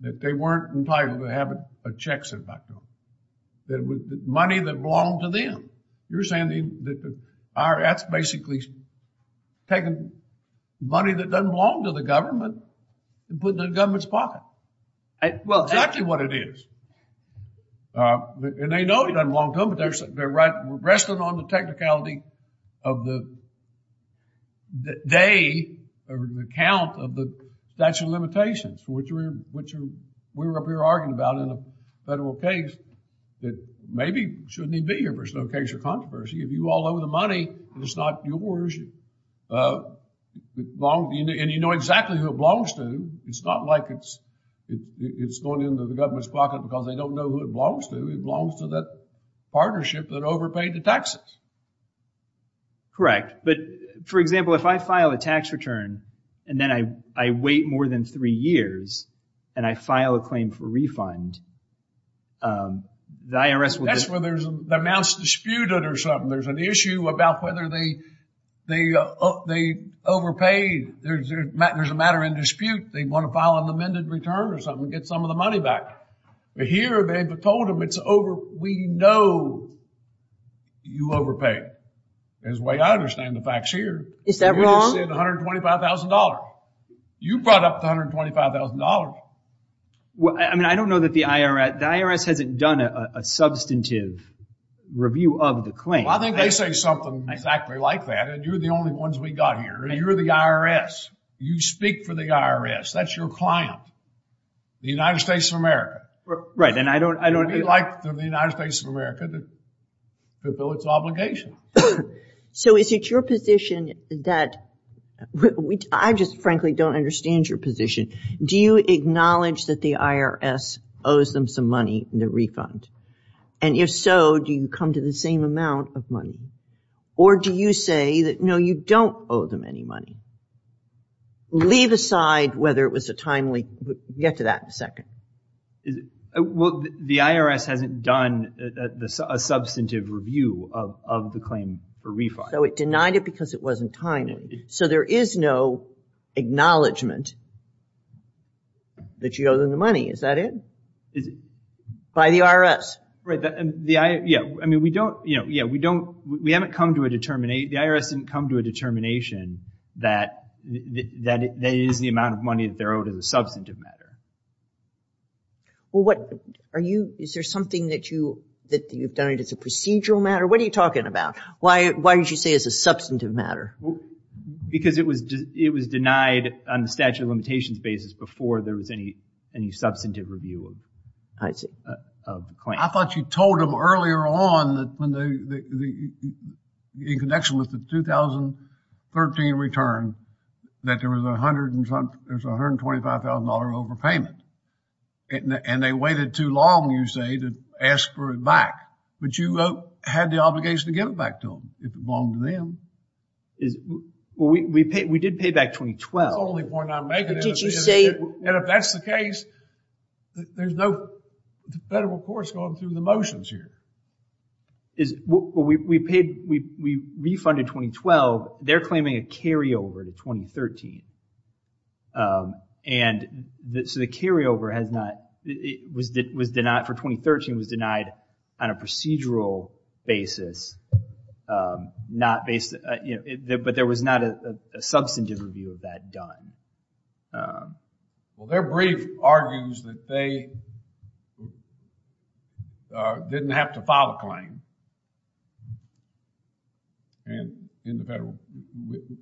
that they weren't entitled to have a check sent back to them. That it was money that belonged to them. You're saying that the IRS basically has taken money that doesn't belong to the government and put it in the government's pocket. Well, that's exactly what it is. And they know it doesn't belong to them, but they're resting on the technicality of the day or the count of the statute of limitations, which we're up here arguing about in a federal case that maybe shouldn't even be your personal case of controversy. If you all owe the money and it's not yours, and you know exactly who it belongs to, it's not like it's going into the government's pocket. Because they don't know who it belongs to. It belongs to that partnership that overpaid the taxes. Correct. But for example, if I file a tax return, and then I wait more than three years, and I file a claim for refund, the IRS will- That's where there's an announced dispute or something. There's an issue about whether they overpaid. There's a matter in dispute. They want to file an amended return or something, get some of the money back. But here, they've told them, we know you overpaid. As a way, I understand the facts here. Is that wrong? You just said $125,000. You brought up the $125,000. Well, I mean, I don't know that the IRS... The IRS hasn't done a substantive review of the claim. Well, I think they say something exactly like that. And you're the only ones we got here. And you're the IRS. You speak for the IRS. That's your client, the United States of America. Right, and I don't- It would be like the United States of America, to fulfill its obligation. So is it your position that... I just frankly don't understand your position. Do you acknowledge that the IRS owes them some money in the refund? And if so, do you come to the same amount of money? Or do you say that, no, you don't owe them any money? Leave aside whether it was a timely... We'll get to that in a second. Well, the IRS hasn't done a substantive review of the claim for refund. So it denied it because it wasn't timely. So there is no acknowledgment that you owe them the money, is that it? Is it- By the IRS. Right, and the IRS... Yeah, I mean, we don't... Yeah, we haven't come to a determina- The IRS didn't come to a determination that it is the amount of money that they're owed in the substantive matter. Well, what... Are you... Is there something that you've done as a procedural matter? What are you talking about? Why did you say it's a substantive matter? Because it was denied on the statute of limitations basis before there was any substantive review of the claim. I thought you told them earlier on that when they... In connection with the 2013 return, that there was a $125,000 overpayment. And they waited too long, you say, to ask for it back. But you had the obligation to give it back to them, if it belonged to them. Is... Well, we did pay back 2012. That's the only point I'm making. But did you say- And if that's the case, there's no federal courts going through the motions here. Is... Well, we paid... We refunded 2012. They're claiming a carryover to 2013. And so, the carryover has not... It was denied for 2013, it was denied on a procedural basis. Not based... But there was not a substantive review of that done. Well, they're brief argues that they didn't have to file a claim in the federal...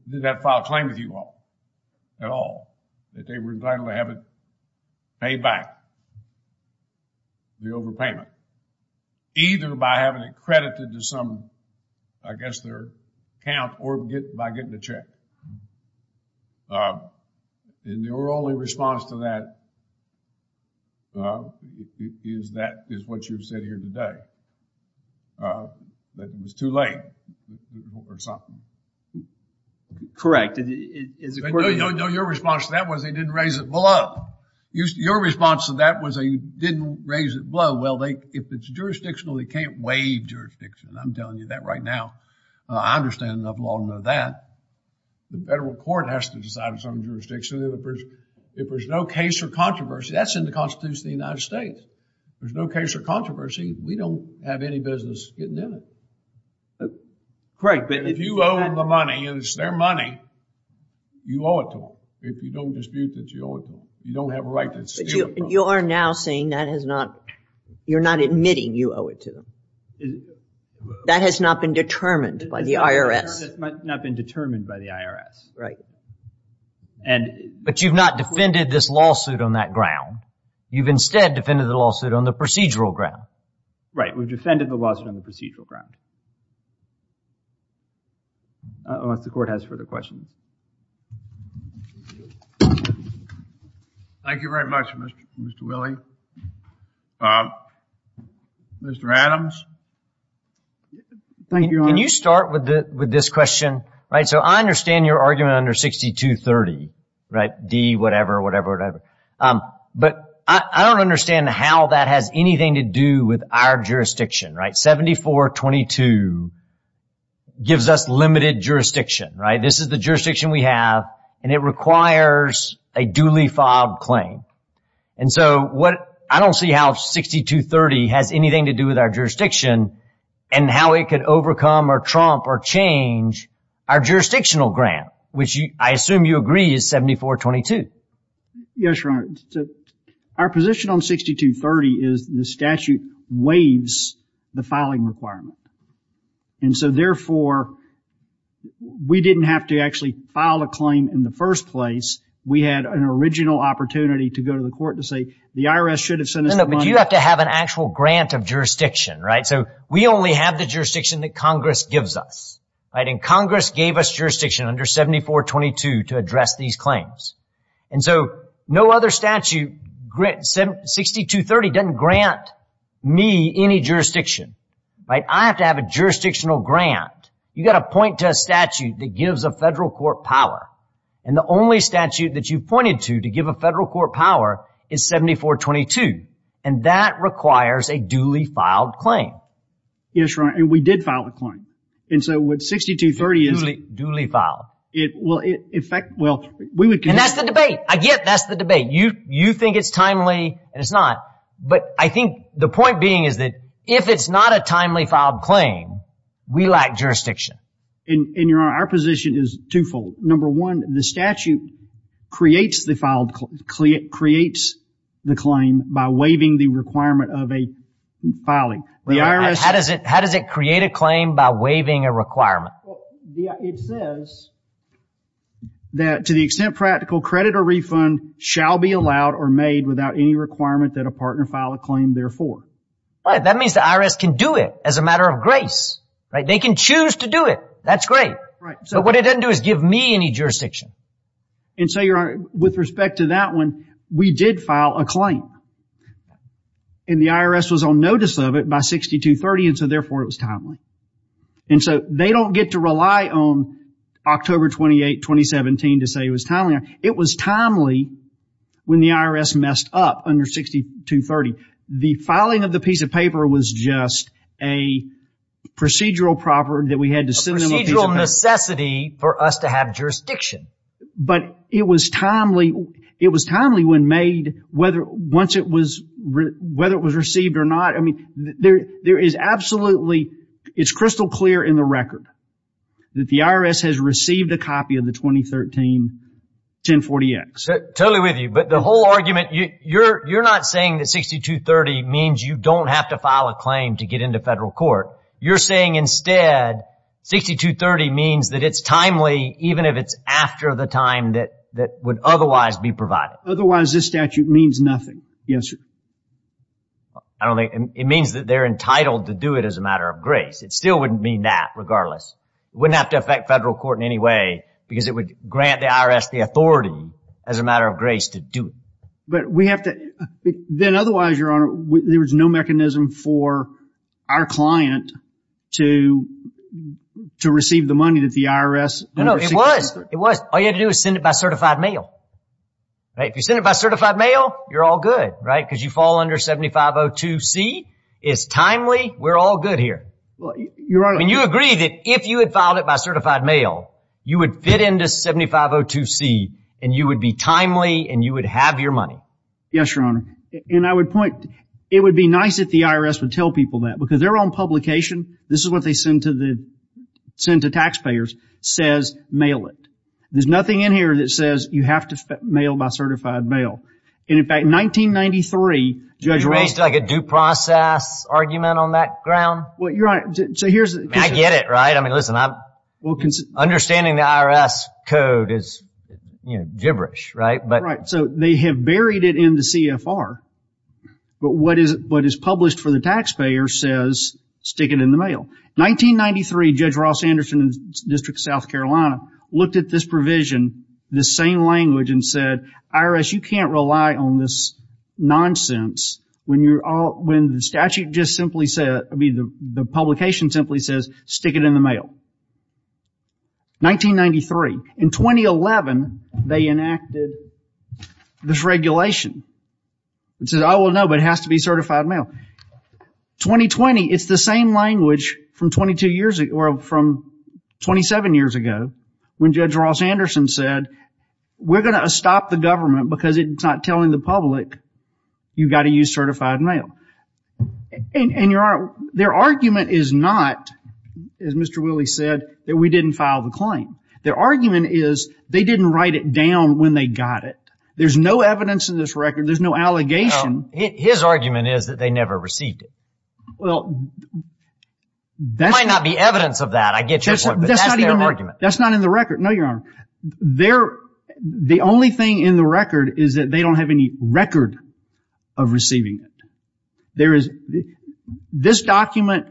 Did not file a claim with you all, at all. That they were entitled to have it paid back, the overpayment. Either by having it credited to some, I guess, their account, or by getting a check. And your only response to that is that... Is what you've said here today. That it was too late, or something. Correct. No, your response to that was they didn't raise it below. Your response to that was they didn't raise it below. Well, if it's jurisdictional, they can't waive jurisdiction. I'm telling you that right now. I understand enough law to know that. The federal court has to decide its own jurisdiction. If there's no case or controversy, that's in the Constitution of the United States. If there's no case or controversy, we don't have any business getting in it. Right, but if you owe the money, it's their money. You owe it to them. If you don't dispute that you owe it to them. You don't have a right to steal it from them. You are now saying that has not... You're not admitting you owe it to them. That has not been determined by the IRS. That has not been determined by the IRS. Right. But you've not defended this lawsuit on that ground. You've instead defended the lawsuit on the procedural ground. Right, we've defended the lawsuit on the procedural ground. Unless the court has further questions. Thank you very much, Mr. Willie. Mr. Adams? Thank you, Your Honor. Can you start with this question? Right, so I understand your argument under 6230, right? D, whatever, whatever, whatever. But I don't understand how that has anything to do with our jurisdiction, right? 7422 gives us limited jurisdiction, right? This is the jurisdiction we have and it requires a duly filed claim. And so I don't see how 6230 has anything to do with our jurisdiction and how it could overcome or trump or change our jurisdictional grant, which I assume you agree is 7422. Yes, Your Honor. Our position on 6230 is the statute waives the filing requirement. And so therefore, we didn't have to actually file a claim in the first place. We had an original opportunity to go to the court to say the IRS should have sent us the money. No, no, but you have to have an actual grant of jurisdiction, right? So we only have the jurisdiction that Congress gives us, right? And Congress gave us jurisdiction under 7422 to address these claims. And so no other statute, 6230 doesn't grant me any jurisdiction, right? I have to have a jurisdictional grant. You got to point to a statute that gives a federal court power. And the only statute that you pointed to to give a federal court power is 7422. And that requires a duly filed claim. Yes, Your Honor. And we did file a claim. And so what 6230 is... Duly filed. In fact, well, we would... And that's the debate. I get that's the debate. You think it's timely and it's not. But I think the point being is that if it's not a timely filed claim, we lack jurisdiction. And Your Honor, our position is twofold. Number one, the statute creates the claim by waiving the requirement of a filing. How does it create a claim by waiving a requirement? It says that to the extent practical, credit or refund shall be allowed or made without any requirement that a partner file a claim therefore. That means the IRS can do it as a matter of grace, right? They can choose to do it. That's great. So what it doesn't do is give me any jurisdiction. And so Your Honor, with respect to that one, we did file a claim. And the IRS was on notice of it by 6230. And so therefore it was timely. And so they don't get to rely on October 28, 2017 to say it was timely. It was timely when the IRS messed up under 6230. The filing of the piece of paper was just a procedural property that we had to... Procedural necessity for us to have jurisdiction. But it was timely. It was timely when made whether once it was whether it was received or not. I mean, there is absolutely, it's crystal clear in the record that the IRS has received a copy of the 2013 1040X. Totally with you. But the whole argument, you're not saying that 6230 means you don't have to file a claim to get into federal court. You're saying instead 6230 means that it's timely, even if it's after the time that would otherwise be provided. Otherwise, this statute means nothing. Yes, sir. I don't think it means that they're entitled to do it as a matter of grace. It still wouldn't mean that regardless. It wouldn't have to affect federal court in any way because it would grant the IRS the authority as a matter of grace to do it. But we have to then otherwise, your honor, there was no mechanism for our client to to receive the money that the IRS... No, no, it was. It was. All you had to do is send it by certified mail. If you send it by certified mail, you're all good, right? Because you fall under 7502C is timely. We're all good here. Well, you're right. And you agree that if you had filed it by certified mail, you would fit into 7502C and you would be timely and you would have your money. Yes, your honor. And I would point it would be nice if the IRS would tell people that because their own publication. This is what they send to the send to taxpayers says mail it. There's nothing in here that says you have to mail by certified mail. And in fact, 1993, judge raised like a due process argument on that ground. Well, you're right. So here's I get it right. I mean, listen, I'm well, understanding the IRS code is gibberish, right? But right. So they have buried it in the CFR. But what is what is published for the taxpayer says stick it in the mail. 1993, Judge Ross Anderson, District of South Carolina, looked at this provision, the same language and said, IRS, you can't rely on this nonsense when you're all when the statute just simply said, I mean, the publication simply says stick it in the mail. 1993, in 2011, they enacted this regulation. It says, oh, well, no, but it has to be certified mail. 2020, it's the same language from 22 years or from 27 years ago. When Judge Ross Anderson said, we're going to stop the government because it's not telling the public you've got to use certified mail. And your honor, their argument is not, as Mr. Willie said, that we didn't file the claim. Their argument is they didn't write it down when they got it. There's no evidence in this record. There's no allegation. His argument is that they never received it. Well, that might not be evidence of that. I get your point. That's not in the record. No, your honor. There, the only thing in the record is that they don't have any record of receiving it. There is, this document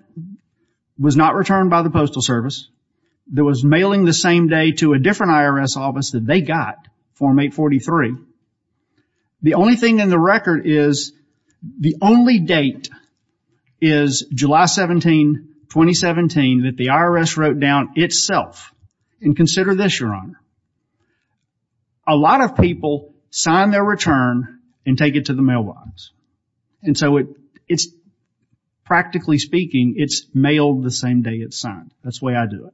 was not returned by the postal service. There was mailing the same day to a different IRS office that they got, Form 843. The only thing in the record is, the only date is July 17, 2017, that the envelope itself, and consider this, your honor, a lot of people sign their return and take it to the mailbox. And so it's, practically speaking, it's mailed the same day it's signed. That's the way I do it.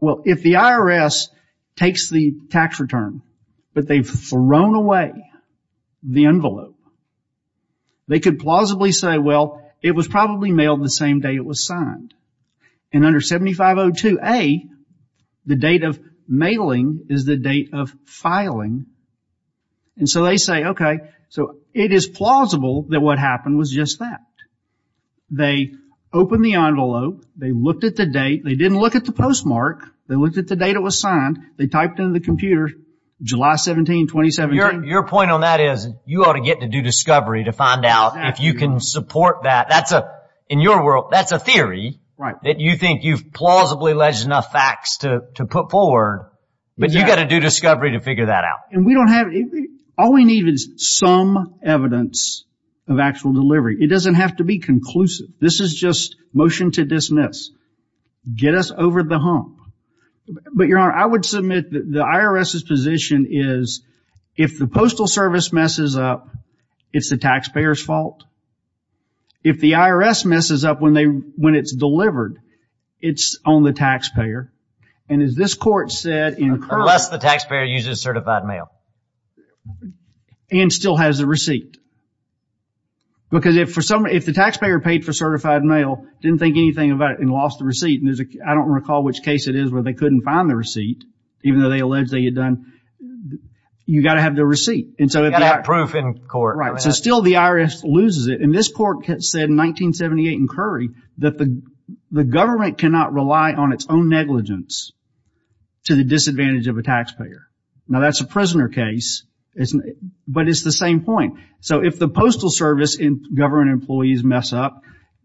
Well, if the IRS takes the tax return, but they've thrown away the envelope, they could plausibly say, well, it was probably mailed the same day it was signed. 502A, the date of mailing is the date of filing. And so they say, okay, so it is plausible that what happened was just that. They opened the envelope. They looked at the date. They didn't look at the postmark. They looked at the date it was signed. They typed into the computer, July 17, 2017. Your point on that is, you ought to get to do discovery to find out if you can support that. In your world, that's a theory that you think you've plausibly alleged enough facts to put forward, but you got to do discovery to figure that out. And we don't have, all we need is some evidence of actual delivery. It doesn't have to be conclusive. This is just motion to dismiss. Get us over the hump. But your honor, I would submit that the IRS's position is, if the Postal Service messes up, it's the taxpayer's fault. If the IRS messes up when it's delivered, it's on the taxpayer. And as this court said in crime... Unless the taxpayer uses certified mail. And still has the receipt. Because if the taxpayer paid for certified mail, didn't think anything about it, and lost the receipt, and I don't recall which case it is where they couldn't find the receipt, even though they allege they had done, you got to have the receipt. You got to have proof in court. So still the IRS loses it. And this court said in 1978 in Curry, that the government cannot rely on its own negligence to the disadvantage of a taxpayer. Now that's a prisoner case, but it's the same point. So if the Postal Service and government employees mess up,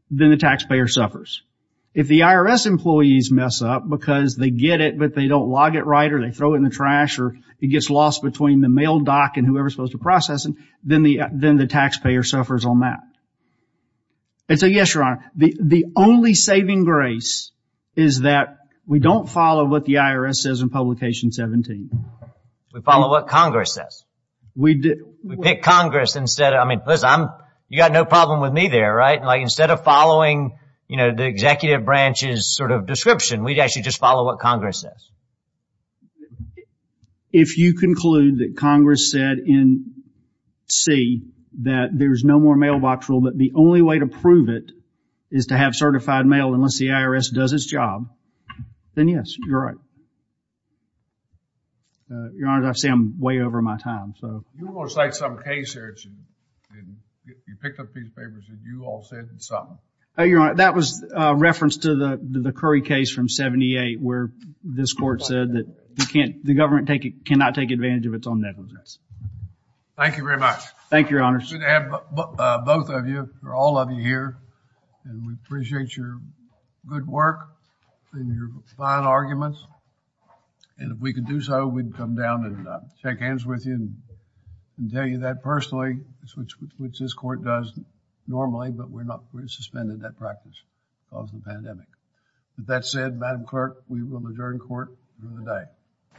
then the taxpayer suffers. If the IRS employees mess up because they get it, but they don't log it right, or they throw it in the trash, or it gets lost between the mail doc and whoever they're supposed to process it, then the taxpayer suffers on that. And so yes, Your Honor, the only saving grace is that we don't follow what the IRS says in Publication 17. We follow what Congress says. We pick Congress instead of... I mean, listen, you got no problem with me there, right? Instead of following, you know, the executive branch's sort of description, we actually just follow what Congress says. If you conclude that Congress said in C, that there's no more mailbox rule, but the only way to prove it is to have certified mail, unless the IRS does its job, then yes, you're right. Your Honor, I say I'm way over my time. So... You're going to cite some case here, and you picked up these papers, and you all said something. Oh, Your Honor, that was a reference to the Curry case from 78, where this court said that the government cannot take advantage of its own negligence. Thank you very much. Thank you, Your Honor. Good to have both of you, or all of you here, and we appreciate your good work and your fine arguments. And if we could do so, we'd come down and shake hands with you and tell you that personally, which this court does normally, but we're suspended that practice because of the pandemic. With that said, Madam Clerk, we will adjourn court for the day.